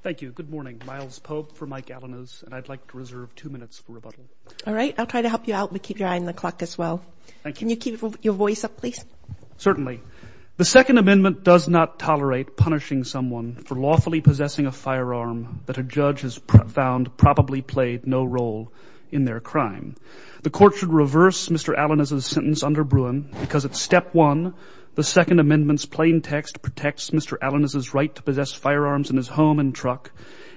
The Second Amendment does not tolerate punishing someone for lawfully possessing a firearm that a judge has found probably played no role in their crime. The Court should reverse Mr. Alaniz's sentence under Bruin because at Step 1, the Second Amendment's plain text protects Mr. Alaniz's right to possess firearms in his home and truck,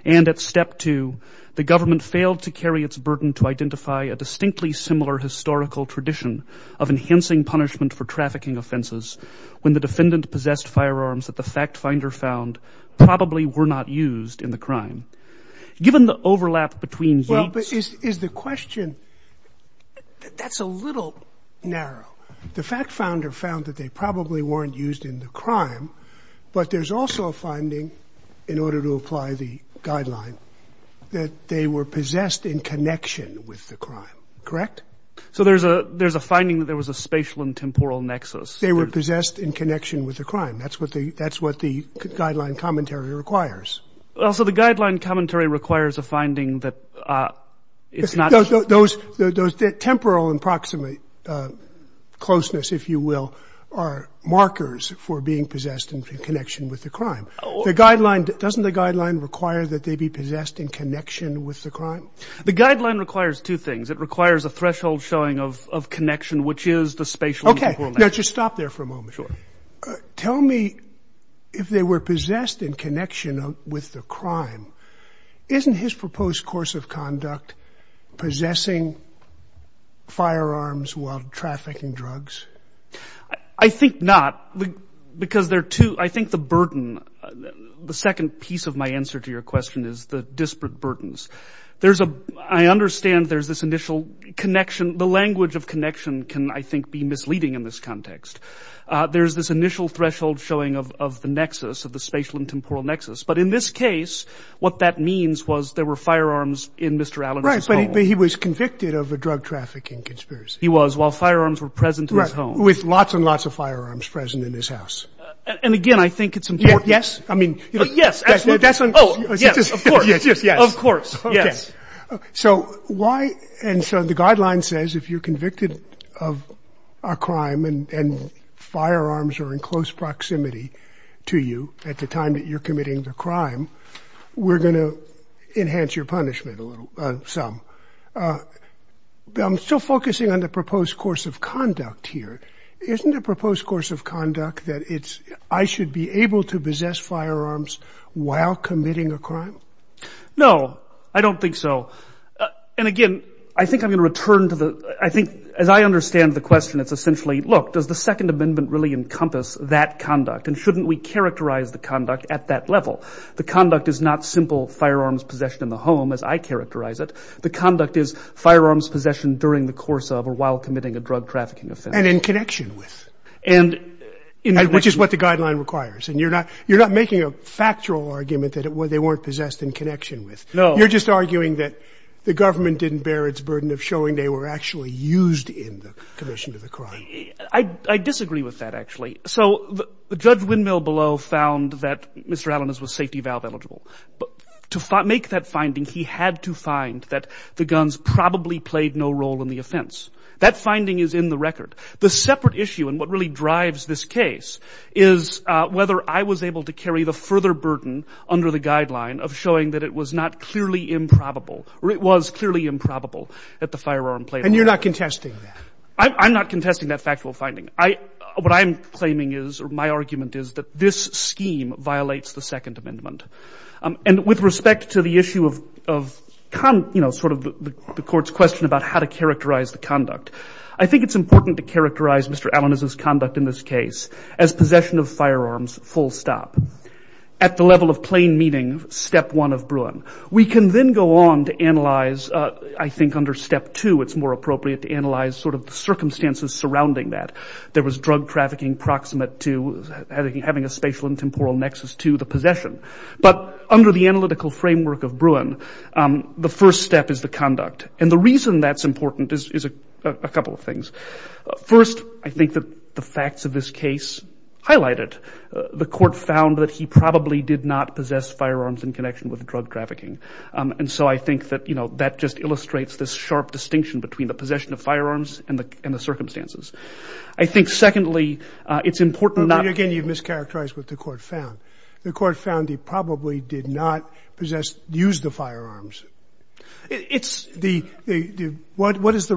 and at Step 2, the government failed to carry its burden to identify a distinctly similar historical tradition of enhancing punishment for trafficking offenses when the defendant possessed firearms that the fact-finder found probably were not used in the crime. Given the overlap between views... Well, but is the question... That's a little narrow. The fact-founder found that they probably weren't used in the crime, but there's also a finding, in order to apply the guideline, that they were possessed in connection with the crime, correct? So there's a finding that there was a spatial and temporal nexus. They were possessed in connection with the crime. That's what the guideline commentary requires. Also, the guideline commentary requires a finding that it's not... Those temporal and proximate closeness, if you will, are markers for being possessed in connection with the crime. The guideline, doesn't the guideline require that they be possessed in connection with the crime? The guideline requires two things. No, just stop there for a moment. Sure. Tell me, if they were possessed in connection with the crime, isn't his proposed course of conduct possessing firearms while trafficking drugs? I think not, because there are two... I think the burden, the second piece of my answer to your question is the disparate burdens. There's a... I understand there's this initial connection. The language of connection can, I think, be misleading in this context. There's this initial threshold showing of the nexus, of the spatial and temporal nexus. But in this case, what that means was there were firearms in Mr. Allen's home. Right, but he was convicted of a drug trafficking conspiracy. He was, while firearms were present in his home. Right, with lots and lots of firearms present in his house. And again, I think it's important... Yes. I mean... Yes, absolutely. Oh, yes, of course. Of course. Yes. So why... And so the guideline says if you're convicted of a crime and firearms are in close proximity to you at the time that you're committing the crime, we're going to enhance your punishment a little, some. I'm still focusing on the proposed course of conduct here. Isn't the proposed course of conduct that it's... No, I don't think so. And again, I think I'm going to return to the... I think, as I understand the question, it's essentially, look, does the Second Amendment really encompass that conduct and shouldn't we characterize the conduct at that level? The conduct is not simple firearms possession in the home, as I characterize it. The conduct is firearms possession during the course of or while committing a drug trafficking offense. And in connection with. And in connection... Which is what the guideline requires. And you're not making a factual argument that they weren't possessed in connection with. No. You're just arguing that the government didn't bear its burden of showing they were actually used in the commission of the crime. I disagree with that, actually. So Judge Windmill below found that Mr. Allen was safety valve eligible. To make that finding, he had to find that the guns probably played no role in the offense. That finding is in the record. The separate issue, and what really drives this case, is whether I was able to carry the further burden under the guideline of showing that it was not clearly improbable, or it was clearly improbable that the firearm played a role. And you're not contesting that. I'm not contesting that factual finding. What I'm claiming is, or my argument is, that this scheme violates the Second Amendment. And with respect to the issue of, you know, sort of the court's question about how to characterize the conduct, I think it's important to characterize Mr. Allen's conduct in this case as possession of firearms, full stop. At the level of plain meaning, Step 1 of Bruin. We can then go on to analyze, I think under Step 2, it's more appropriate to analyze sort of the circumstances surrounding that. There was drug trafficking proximate to having a spatial and temporal nexus to the possession. But under the analytical framework of Bruin, the first step is the conduct. And the reason that's important is a couple of things. First, I think that the facts of this case highlight it. The court found that he probably did not possess firearms in connection with drug trafficking. And so I think that, you know, that just illustrates this sharp distinction between the possession of firearms and the circumstances. I think, secondly, it's important not to. Again, you've mischaracterized what the court found. The court found he probably did not possess, use the firearms. What does the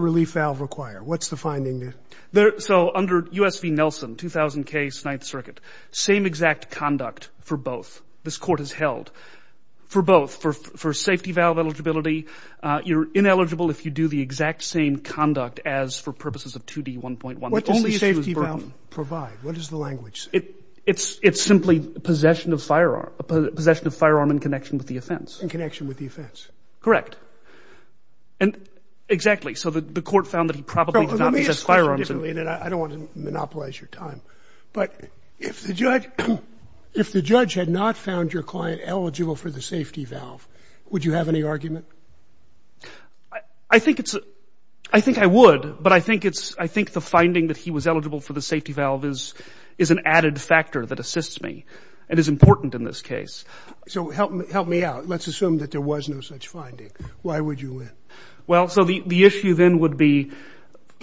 relief valve require? What's the finding there? So under U.S. v. Nelson, 2000 case, Ninth Circuit, same exact conduct for both. This court has held for both. For safety valve eligibility, you're ineligible if you do the exact same conduct as for purposes of 2D1.1. What does the safety valve provide? What does the language say? It's simply possession of firearm in connection with the offense. In connection with the offense. Correct. And exactly. So the court found that he probably did not possess firearms. I don't want to monopolize your time, but if the judge had not found your client eligible for the safety valve, would you have any argument? I think I would, but I think the finding that he was eligible for the safety valve is an added factor that assists me and is important in this case. So help me out. Let's assume that there was no such finding. Why would you win? Well, so the issue then would be,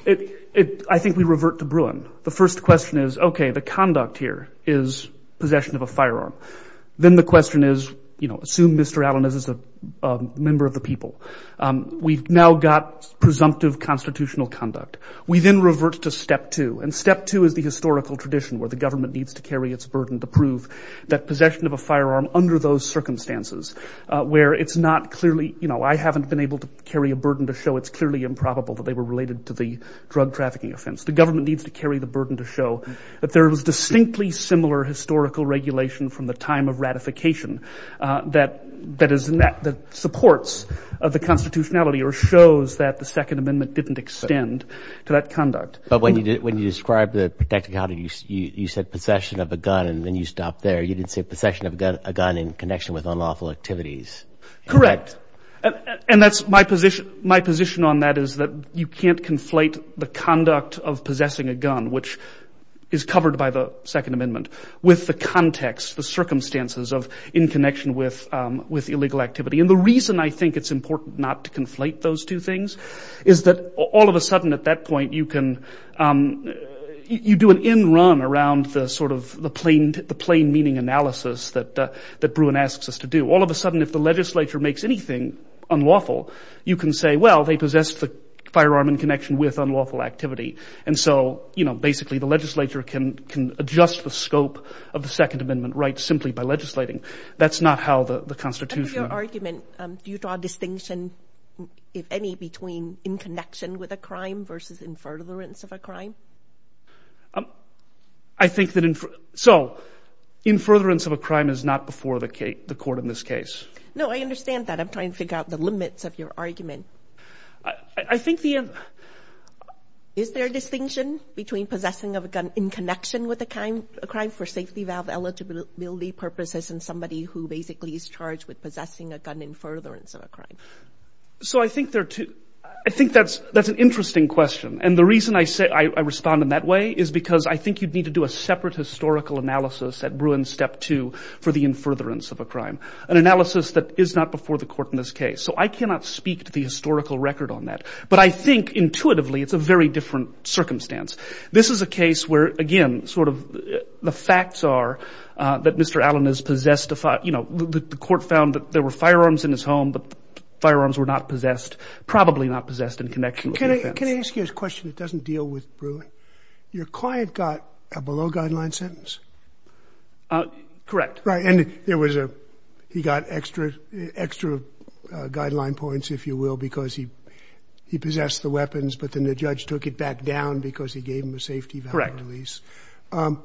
I think we revert to Bruin. The first question is, okay, the conduct here is possession of a firearm. Then the question is, you know, assume Mr. Allen is a member of the people. We've now got presumptive constitutional conduct. We then revert to step two, and step two is the historical tradition where the government needs to carry its burden to prove that possession of a firearm under those circumstances where it's not clearly, you know, I haven't been able to carry a burden to show it's clearly improbable that they were related to the drug trafficking offense. The government needs to carry the burden to show that there was distinctly similar historical regulation from the time of ratification that supports the constitutionality or shows that the Second Amendment didn't extend to that conduct. But when you described the protected conduct, you said possession of a gun, and then you stopped there. You didn't say possession of a gun in connection with unlawful activities. Correct. And that's my position. My position on that is that you can't conflate the conduct of possessing a gun, which is covered by the Second Amendment, with the context, the circumstances, of in connection with illegal activity. And the reason I think it's important not to conflate those two things is that all of a sudden at that point, you can do an in run around the sort of the plain meaning analysis that Bruin asks us to do. All of a sudden, if the legislature makes anything unlawful, you can say, well, they possessed the firearm in connection with unlawful activity. And so, you know, basically the legislature can adjust the scope of the Second Amendment right simply by legislating. That's not how the constitution. In your argument, do you draw a distinction, if any, between in connection with a crime versus in furtherance of a crime? I think that in furtherance of a crime is not before the court in this case. No, I understand that. I'm trying to figure out the limits of your argument. I think the end. Is there a distinction between possessing of a gun in connection with a crime for safety, without eligibility purposes and somebody who basically is charged with possessing a gun in furtherance of a crime? So I think there are two. I think that's an interesting question. And the reason I respond in that way is because I think you'd need to do a separate historical analysis at Bruin Step 2 for the in furtherance of a crime, an analysis that is not before the court in this case. So I cannot speak to the historical record on that. But I think intuitively it's a very different circumstance. This is a case where, again, sort of the facts are that Mr. Allen has possessed a, you know, the court found that there were firearms in his home, but the firearms were not possessed, probably not possessed in connection with the offense. Can I ask you a question that doesn't deal with Bruin? Your client got a below-guideline sentence. Correct. Right. And there was a he got extra guideline points, if you will, because he possessed the weapons, but then the judge took it back down because he gave him a safety-value release. Correct.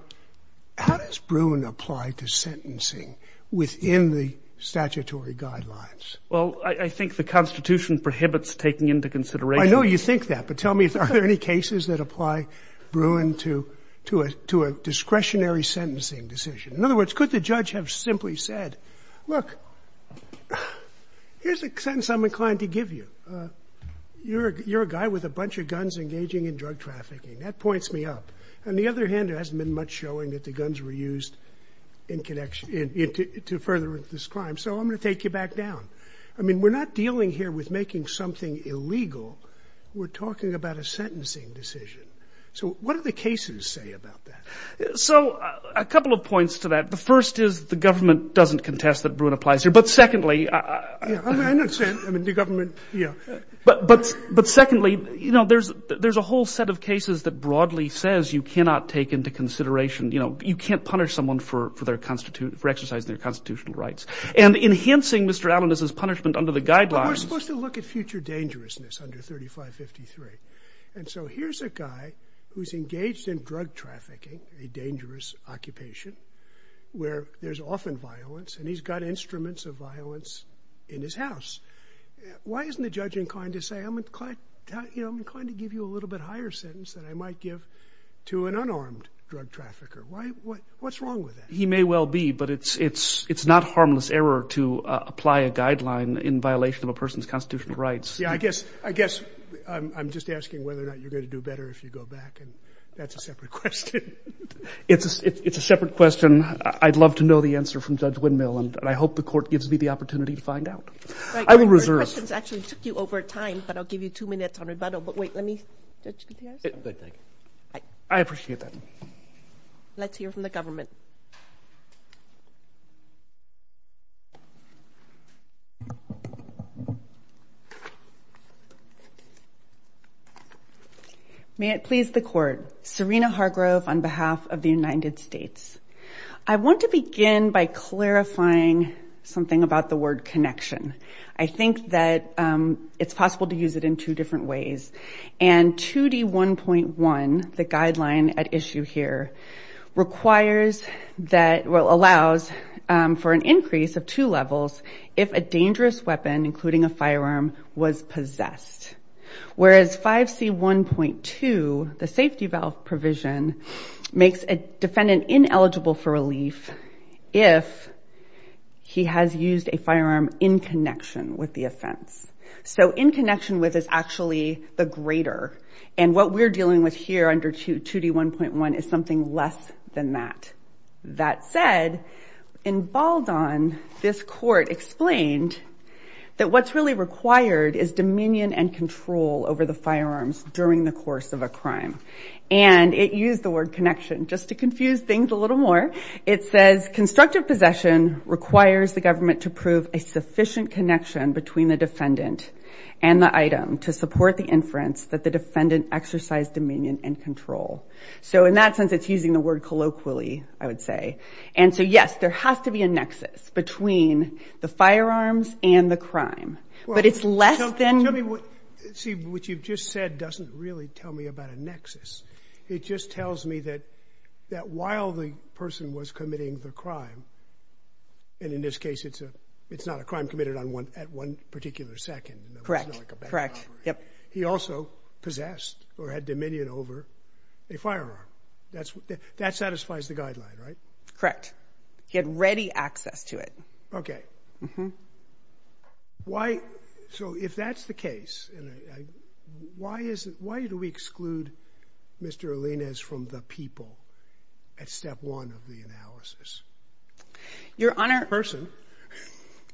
How does Bruin apply to sentencing within the statutory guidelines? Well, I think the Constitution prohibits taking into consideration. I know you think that. But tell me, are there any cases that apply Bruin to a discretionary sentencing decision? In other words, could the judge have simply said, look, here's a sentence I'm inclined to give you. You're a guy with a bunch of guns engaging in drug trafficking. That points me up. On the other hand, there hasn't been much showing that the guns were used in connection to further this crime. So I'm going to take you back down. I mean, we're not dealing here with making something illegal. We're talking about a sentencing decision. So what do the cases say about that? So a couple of points to that. The first is the government doesn't contest that Bruin applies here. But secondly, there's a whole set of cases that broadly says you cannot take into consideration. You can't punish someone for exercising their constitutional rights. And enhancing Mr. Allen's punishment under the guidelines. But we're supposed to look at future dangerousness under 3553. And so here's a guy who's engaged in drug trafficking, a dangerous occupation, where there's often violence. And he's got instruments of violence in his house. Why isn't the judge inclined to say I'm inclined to give you a little bit higher sentence than I might give to an unarmed drug trafficker? What's wrong with that? He may well be, but it's not harmless error to apply a guideline in violation of a person's constitutional rights. Yeah, I guess I'm just asking whether or not you're going to do better if you go back. And that's a separate question. It's a separate question. I'd love to know the answer from Judge Windmill, and I hope the court gives me the opportunity to find out. I will reserve. Your questions actually took you over time, but I'll give you two minutes on rebuttal. But wait, let me. I appreciate that. Let's hear from the government. May it please the court. Serena Hargrove on behalf of the United States. I want to begin by clarifying something about the word connection. I think that it's possible to use it in two different ways. And 2D1.1, the guideline at issue here, allows for an increase of two levels if a dangerous weapon, including a firearm, was possessed. Whereas 5C1.2, the safety valve provision, makes a defendant ineligible for relief if he has used a firearm in connection with the offense. So in connection with is actually the greater. And what we're dealing with here under 2D1.1 is something less than that. That said, in Baldwin, this court explained that what's really required is dominion and control over the firearms during the course of a crime. And it used the word connection just to confuse things a little more. It says, constructive possession requires the government to prove a sufficient connection between the defendant and the item to support the inference that the defendant exercised dominion and control. So in that sense, it's using the word colloquially, I would say. And so, yes, there has to be a nexus between the firearms and the crime. But it's less than. See, what you've just said doesn't really tell me about a nexus. It just tells me that while the person was committing the crime, and in this case, it's not a crime committed at one particular second. Correct. He also possessed or had dominion over a firearm. That satisfies the guideline, right? Correct. He had ready access to it. Okay. Why? So if that's the case, why do we exclude Mr. Alinez from the people at step one of the analysis? Your Honor. A person.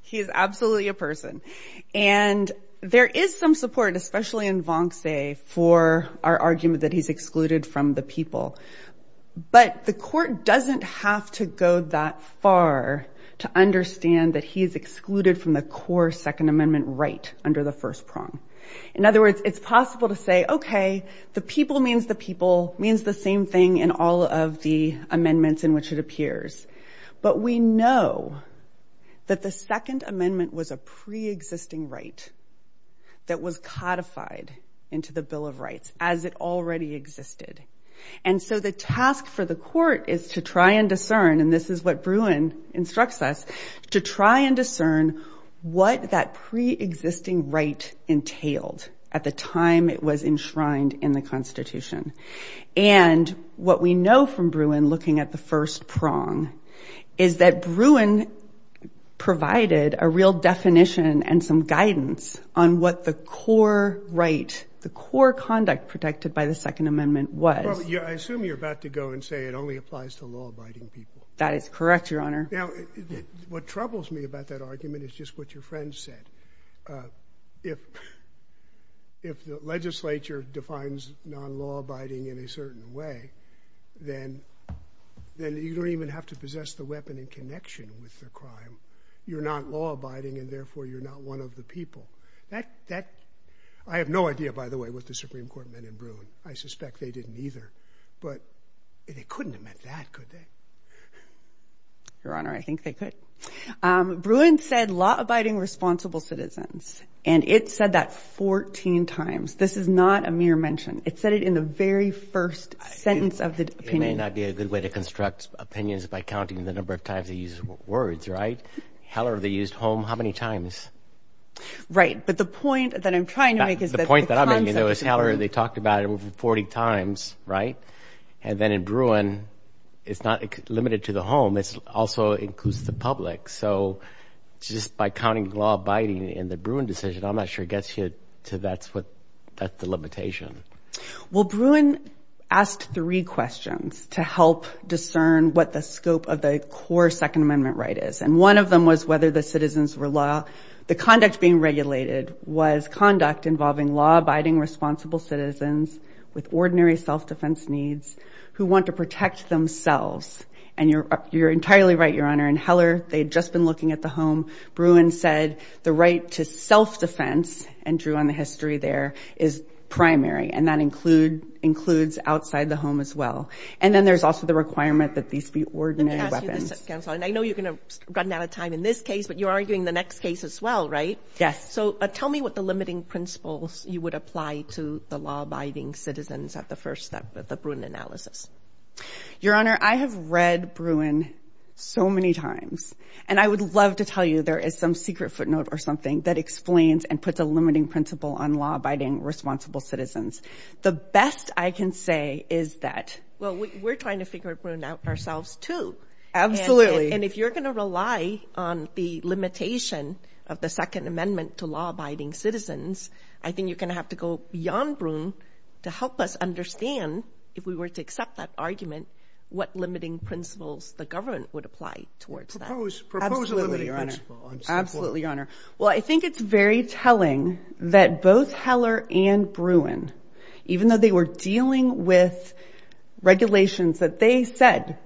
He is absolutely a person. And there is some support, especially in Vonce, for our argument that he's excluded from the people. But the court doesn't have to go that far to understand that he's excluded from the core Second Amendment right under the first prong. In other words, it's possible to say, okay, the people means the people, means the same thing in all of the amendments in which it appears. But we know that the Second Amendment was a pre-existing right that was codified into the Bill of Rights as it already existed. And so the task for the court is to try and discern, and this is what Bruin instructs us, to try and discern what that pre-existing right entailed at the time it was enshrined in the Constitution. And what we know from Bruin looking at the first prong is that Bruin provided a real definition and some guidance on what the core right, the core conduct protected by the Second Amendment was. Well, I assume you're about to go and say it only applies to law-abiding people. That is correct, Your Honor. Now, what troubles me about that argument is just what your friend said. If the legislature defines non-law-abiding in a certain way, then you don't even have to possess the weapon in connection with the crime. You're not law-abiding and therefore you're not one of the people. I have no idea, by the way, what the Supreme Court meant in Bruin. I suspect they didn't either, but they couldn't have meant that, could they? Your Honor, I think they could. Bruin said law-abiding responsible citizens, and it said that 14 times. This is not a mere mention. It said it in the very first sentence of the opinion. It may not be a good way to construct opinions by counting the number of times they use words, right? However, they used home how many times? Right, but the point that I'm trying to make is that the concept of home. The point that I'm making, though, is however they talked about it over 40 times, right? And then in Bruin, it's not limited to the home. It also includes the public. So just by counting law-abiding in the Bruin decision, I'm not sure it gets you to that's the limitation. Well, Bruin asked three questions to help discern what the scope of the core Second Amendment right is, and one of them was whether the citizens were law. The conduct being regulated was conduct involving law-abiding responsible citizens with ordinary self-defense needs who want to protect themselves. And you're entirely right, Your Honor. In Heller, they had just been looking at the home. Bruin said the right to self-defense, and drew on the history there, is primary, and that includes outside the home as well. And then there's also the requirement that these be ordinary weapons. Let me ask you this, counsel, and I know you're going to run out of time in this case, but you're arguing the next case as well, right? Yes. So tell me what the limiting principles you would apply to the law-abiding citizens at the first step of the Bruin analysis. Your Honor, I have read Bruin so many times, and I would love to tell you there is some secret footnote or something that explains and puts a limiting principle on law-abiding responsible citizens. The best I can say is that— Well, we're trying to figure Bruin out ourselves too. Absolutely. And if you're going to rely on the limitation of the Second Amendment to law-abiding citizens, I think you're going to have to go beyond Bruin to help us understand, if we were to accept that argument, what limiting principles the government would apply towards that. Absolutely, Your Honor. Absolutely, Your Honor. Well, I think it's very telling that both Heller and Bruin, even though they were dealing with regulations that they said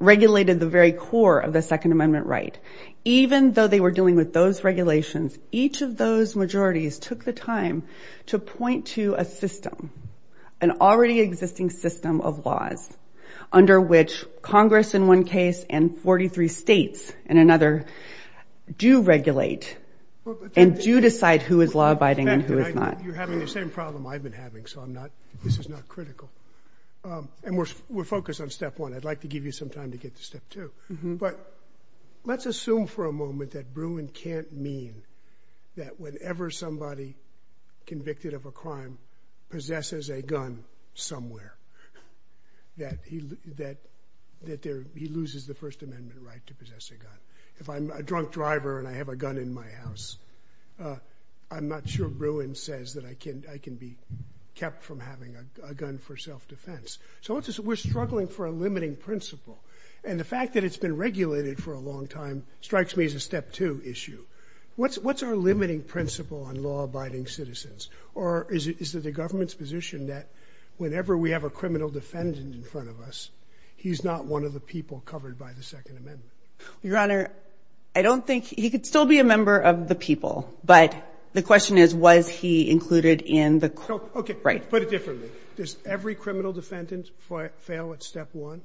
regulated the very core of the Second Amendment right, even though they were dealing with those regulations, each of those majorities took the time to point to a system, an already existing system of laws under which Congress in one case and 43 states in another do regulate and do decide who is law-abiding and who is not. You're having the same problem I've been having, so this is not critical. And we're focused on step one. I'd like to give you some time to get to step two. But let's assume for a moment that Bruin can't mean that whenever somebody convicted of a crime possesses a gun somewhere, that he loses the First Amendment right to possess a gun. If I'm a drunk driver and I have a gun in my house, I'm not sure Bruin says that I can be kept from having a gun for self-defense. So we're struggling for a limiting principle. And the fact that it's been regulated for a long time strikes me as a step two issue. What's our limiting principle on law-abiding citizens? Or is it the government's position that whenever we have a criminal defendant in front of us, he's not one of the people covered by the Second Amendment? Your Honor, I don't think he could still be a member of the people. But the question is, was he included in the crime? Okay, let's put it differently. Does every criminal defendant fail at step one?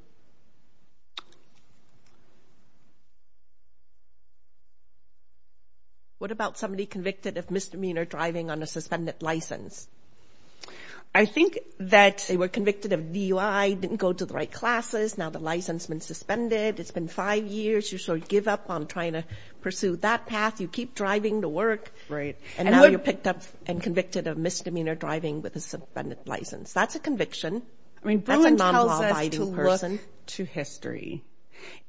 What about somebody convicted of misdemeanor driving on a suspended license? I think that they were convicted of DUI, didn't go to the right classes, now the license has been suspended, it's been five years, you sort of give up on trying to pursue that path, you keep driving to work, and now you're picked up and convicted of misdemeanor driving with a suspended license. That's a conviction. That's a non-law-abiding person.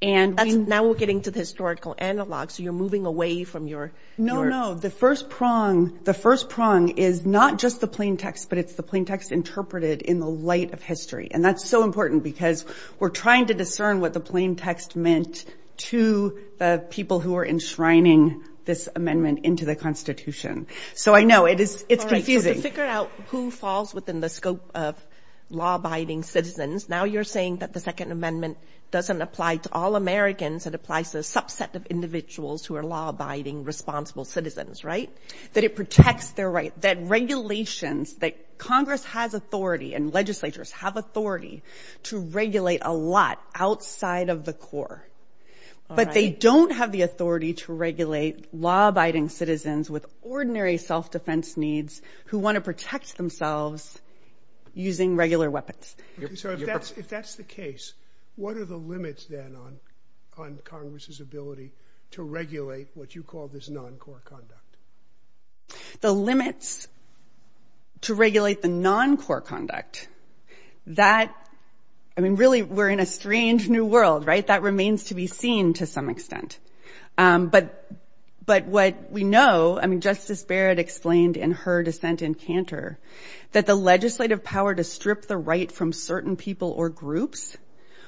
And now we're getting to the historical analog, so you're moving away from your... No, no, the first prong is not just the plain text, but it's the plain text interpreted in the light of history. And that's so important because we're trying to discern what the plain text meant to the people who are enshrining this amendment into the Constitution. So I know, it's confusing. To figure out who falls within the scope of law-abiding citizens, now you're saying that the Second Amendment doesn't apply to all Americans, it applies to a subset of individuals who are law-abiding, responsible citizens, right? That it protects their rights, that regulations, that Congress has authority and legislatures have authority to regulate a lot outside of the core, but they don't have the authority to regulate law-abiding citizens with ordinary self-defense needs who want to protect themselves using regular weapons. So if that's the case, what are the limits then on Congress's ability to regulate what you call this non-core conduct? The limits to regulate the non-core conduct, that... I mean, really, we're in a strange new world, right? That remains to be seen to some extent. But what we know, I mean, Justice Barrett explained in her dissent in Cantor that the legislative power to strip the right from certain people or groups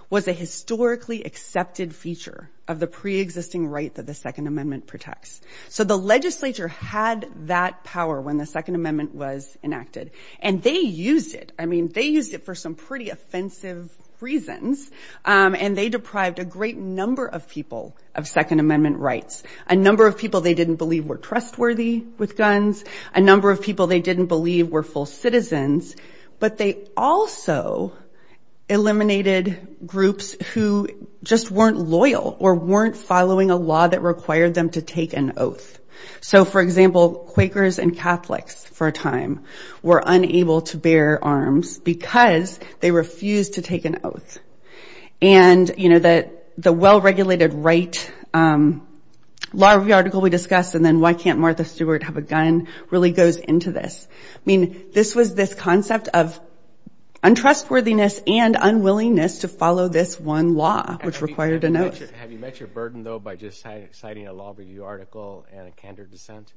was a historically accepted feature of the pre-existing right that the Second Amendment protects. So the legislature had that power when the Second Amendment was enacted, and they used it. I mean, they used it for some pretty offensive reasons, and they deprived a great number of people of Second Amendment rights, a number of people they didn't believe were trustworthy with guns, a number of people they didn't believe were full citizens, but they also eliminated groups who just weren't loyal or weren't following a law that required them to take an oath. So, for example, Quakers and Catholics for a time were unable to bear arms because they refused to take an oath. And, you know, the well-regulated right law article we discussed, and then why can't Martha Stewart have a gun, really goes into this. I mean, this was this concept of untrustworthiness and unwillingness to follow this one law, which required an oath. Have you met your burden, though, by just citing a law review article and a Cantor dissent?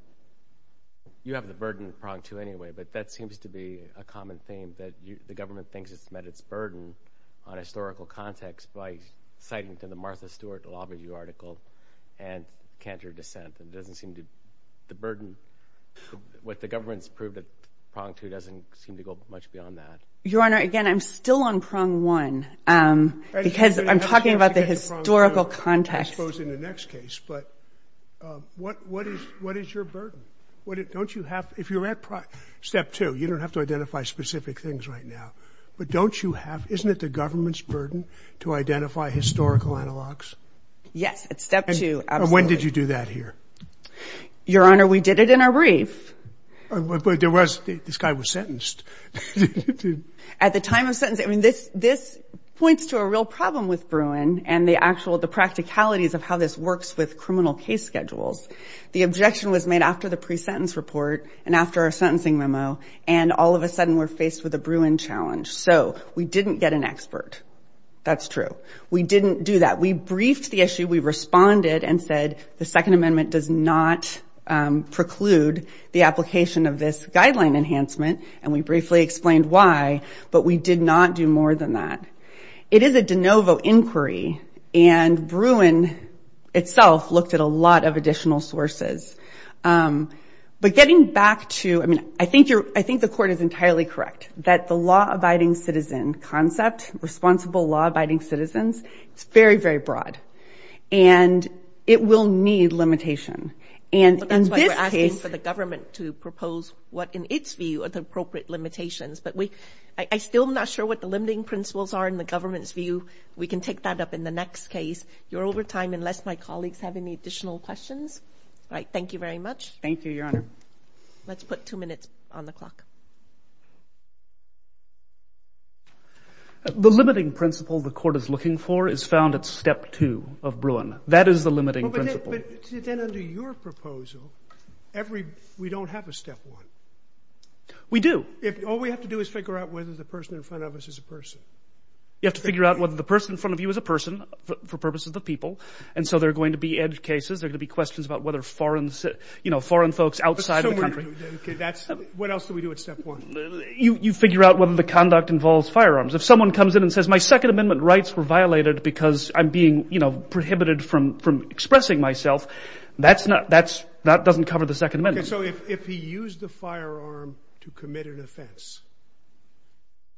You have the burden to prong to anyway, but that seems to be a common theme, that the government thinks it's met its burden on historical context by citing to the Martha Stewart law review article and Cantor dissent. It doesn't seem to be the burden. What the government's proved at prong two doesn't seem to go much beyond that. Your Honor, again, I'm still on prong one, because I'm talking about the historical context. I suppose in the next case, but what is your burden? Don't you have, if you're at step two, you don't have to identify specific things right now, but don't you have, isn't it the government's burden to identify historical analogs? Yes, at step two, absolutely. When did you do that here? Your Honor, we did it in a brief. This guy was sentenced. At the time of sentencing, this points to a real problem with Bruin and the practicalities of how this works with criminal case schedules. The objection was made after the pre-sentence report and after our sentencing memo, and all of a sudden we're faced with a Bruin challenge. So we didn't get an expert. That's true. We didn't do that. We briefed the issue, we responded and said, the Second Amendment does not preclude the application of this guideline enhancement, and we briefly explained why, but we did not do more than that. It is a de novo inquiry, and Bruin itself looked at a lot of additional sources. But getting back to, I mean, I think the Court is entirely correct that the law-abiding citizen concept, responsible law-abiding citizens, it's very, very broad. And it will need limitation. But that's why we're asking for the government to propose what in its view are the appropriate limitations. But I'm still not sure what the limiting principles are in the government's view. We can take that up in the next case. You're over time unless my colleagues have any additional questions. All right, thank you very much. Thank you, Your Honor. Let's put two minutes on the clock. The limiting principle the Court is looking for is found at Step 2 of Bruin. That is the limiting principle. But then under your proposal, we don't have a Step 1. We do. All we have to do is figure out whether the person in front of us is a person. You have to figure out whether the person in front of you is a person for purposes of the people. And so there are going to be edge cases, there are going to be questions about whether foreign folks outside the country. What else do we do at Step 1? You figure out whether the conduct involves firearms. If someone comes in and says, my Second Amendment rights were violated because I'm being prohibited from expressing myself, that doesn't cover the Second Amendment. So if he used the firearm to commit an offense,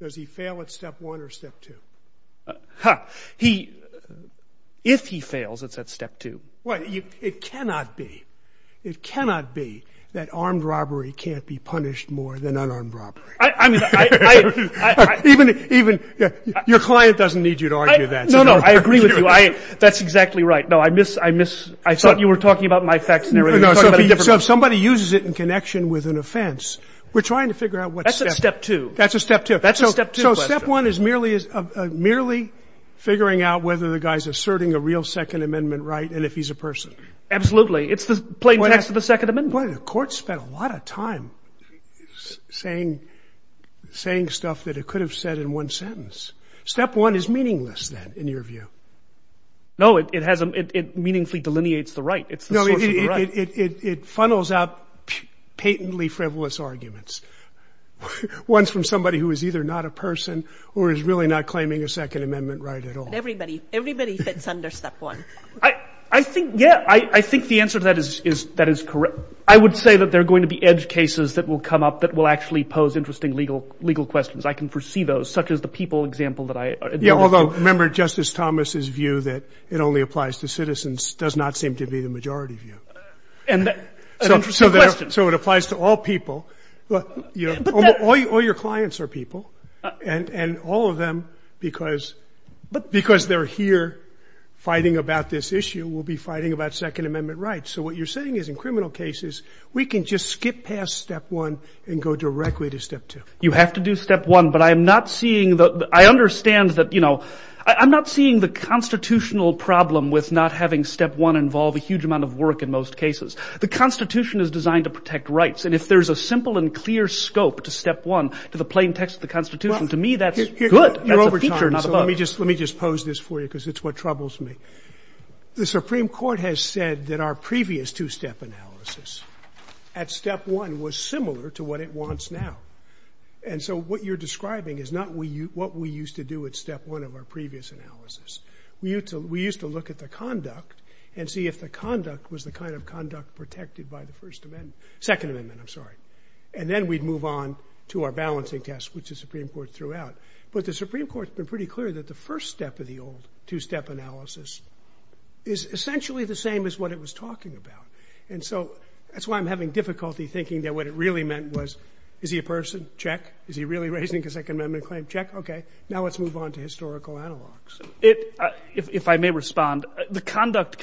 does he fail at Step 1 or Step 2? If he fails, it's at Step 2. Well, it cannot be. It cannot be that armed robbery can't be punished more than unarmed robbery. Even your client doesn't need you to argue that. No, no, I agree with you. That's exactly right. No, I thought you were talking about my facts and everything. So if somebody uses it in connection with an offense, we're trying to figure out what Step 2. That's a Step 2. That's a Step 2 question. So Step 1 is merely figuring out whether the guy is asserting a real Second Amendment right and if he's a person. Absolutely. It's the plain text of the Second Amendment. The court spent a lot of time saying stuff that it could have said in one sentence. Step 1 is meaningless, then, in your view. No, it hasn't. It meaningfully delineates the right. It's the source of the right. It funnels out patently frivolous arguments, ones from somebody who is either not a person or is really not claiming a Second Amendment right at all. Everybody fits under Step 1. I think, yeah, I think the answer to that is correct. I would say that there are going to be edge cases that will come up that will actually pose interesting legal questions. I can foresee those, such as the people example that I alluded to. Although, remember, Justice Thomas's view that it only applies to citizens does not seem to be the majority view. An interesting question. So it applies to all people. All your clients are people. And all of them, because they're here fighting about this issue, will be fighting about Second Amendment rights. So what you're saying is in criminal cases, we can just skip past Step 1 and go directly to Step 2. You have to do Step 1, but I'm not seeing the – I understand that, you know, I'm not seeing the constitutional problem with not having Step 1 involve a huge amount of work in most cases. The Constitution is designed to protect rights, and if there's a simple and clear scope to Step 1, to the plain text of the Constitution, to me, that's good. That's a feature, not a bug. Let me just pose this for you because it's what troubles me. The Supreme Court has said that our previous two-step analysis at Step 1 was similar to what it wants now. And so what you're describing is not what we used to do at Step 1 of our previous analysis. We used to look at the conduct and see if the conduct was the kind of conduct protected by the First Amendment – Second Amendment, I'm sorry. And then we'd move on to our balancing test, which the Supreme Court threw out. But the Supreme Court's been pretty clear that the first step of the old two-step analysis is essentially the same as what it was talking about. And so that's why I'm having difficulty thinking that what it really meant was, is he a person? Check. Is he really raising a Second Amendment claim? Check. Okay, now let's move on to historical analogs. If I may respond, the conduct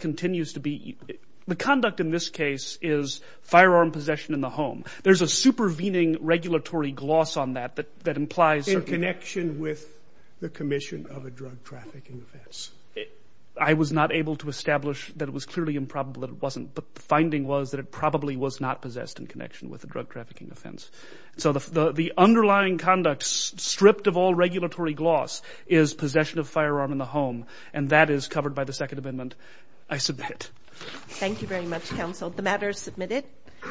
continues to be – the conduct in this case is firearm possession in the home. There's a supervening regulatory gloss on that that implies – In connection with the commission of a drug trafficking offense. I was not able to establish that it was clearly improbable that it wasn't, but the finding was that it probably was not possessed in connection with a drug trafficking offense. So the underlying conduct, stripped of all regulatory gloss, is possession of firearm in the home, and that is covered by the Second Amendment. I submit. Thank you very much, counsel. The matter is submitted.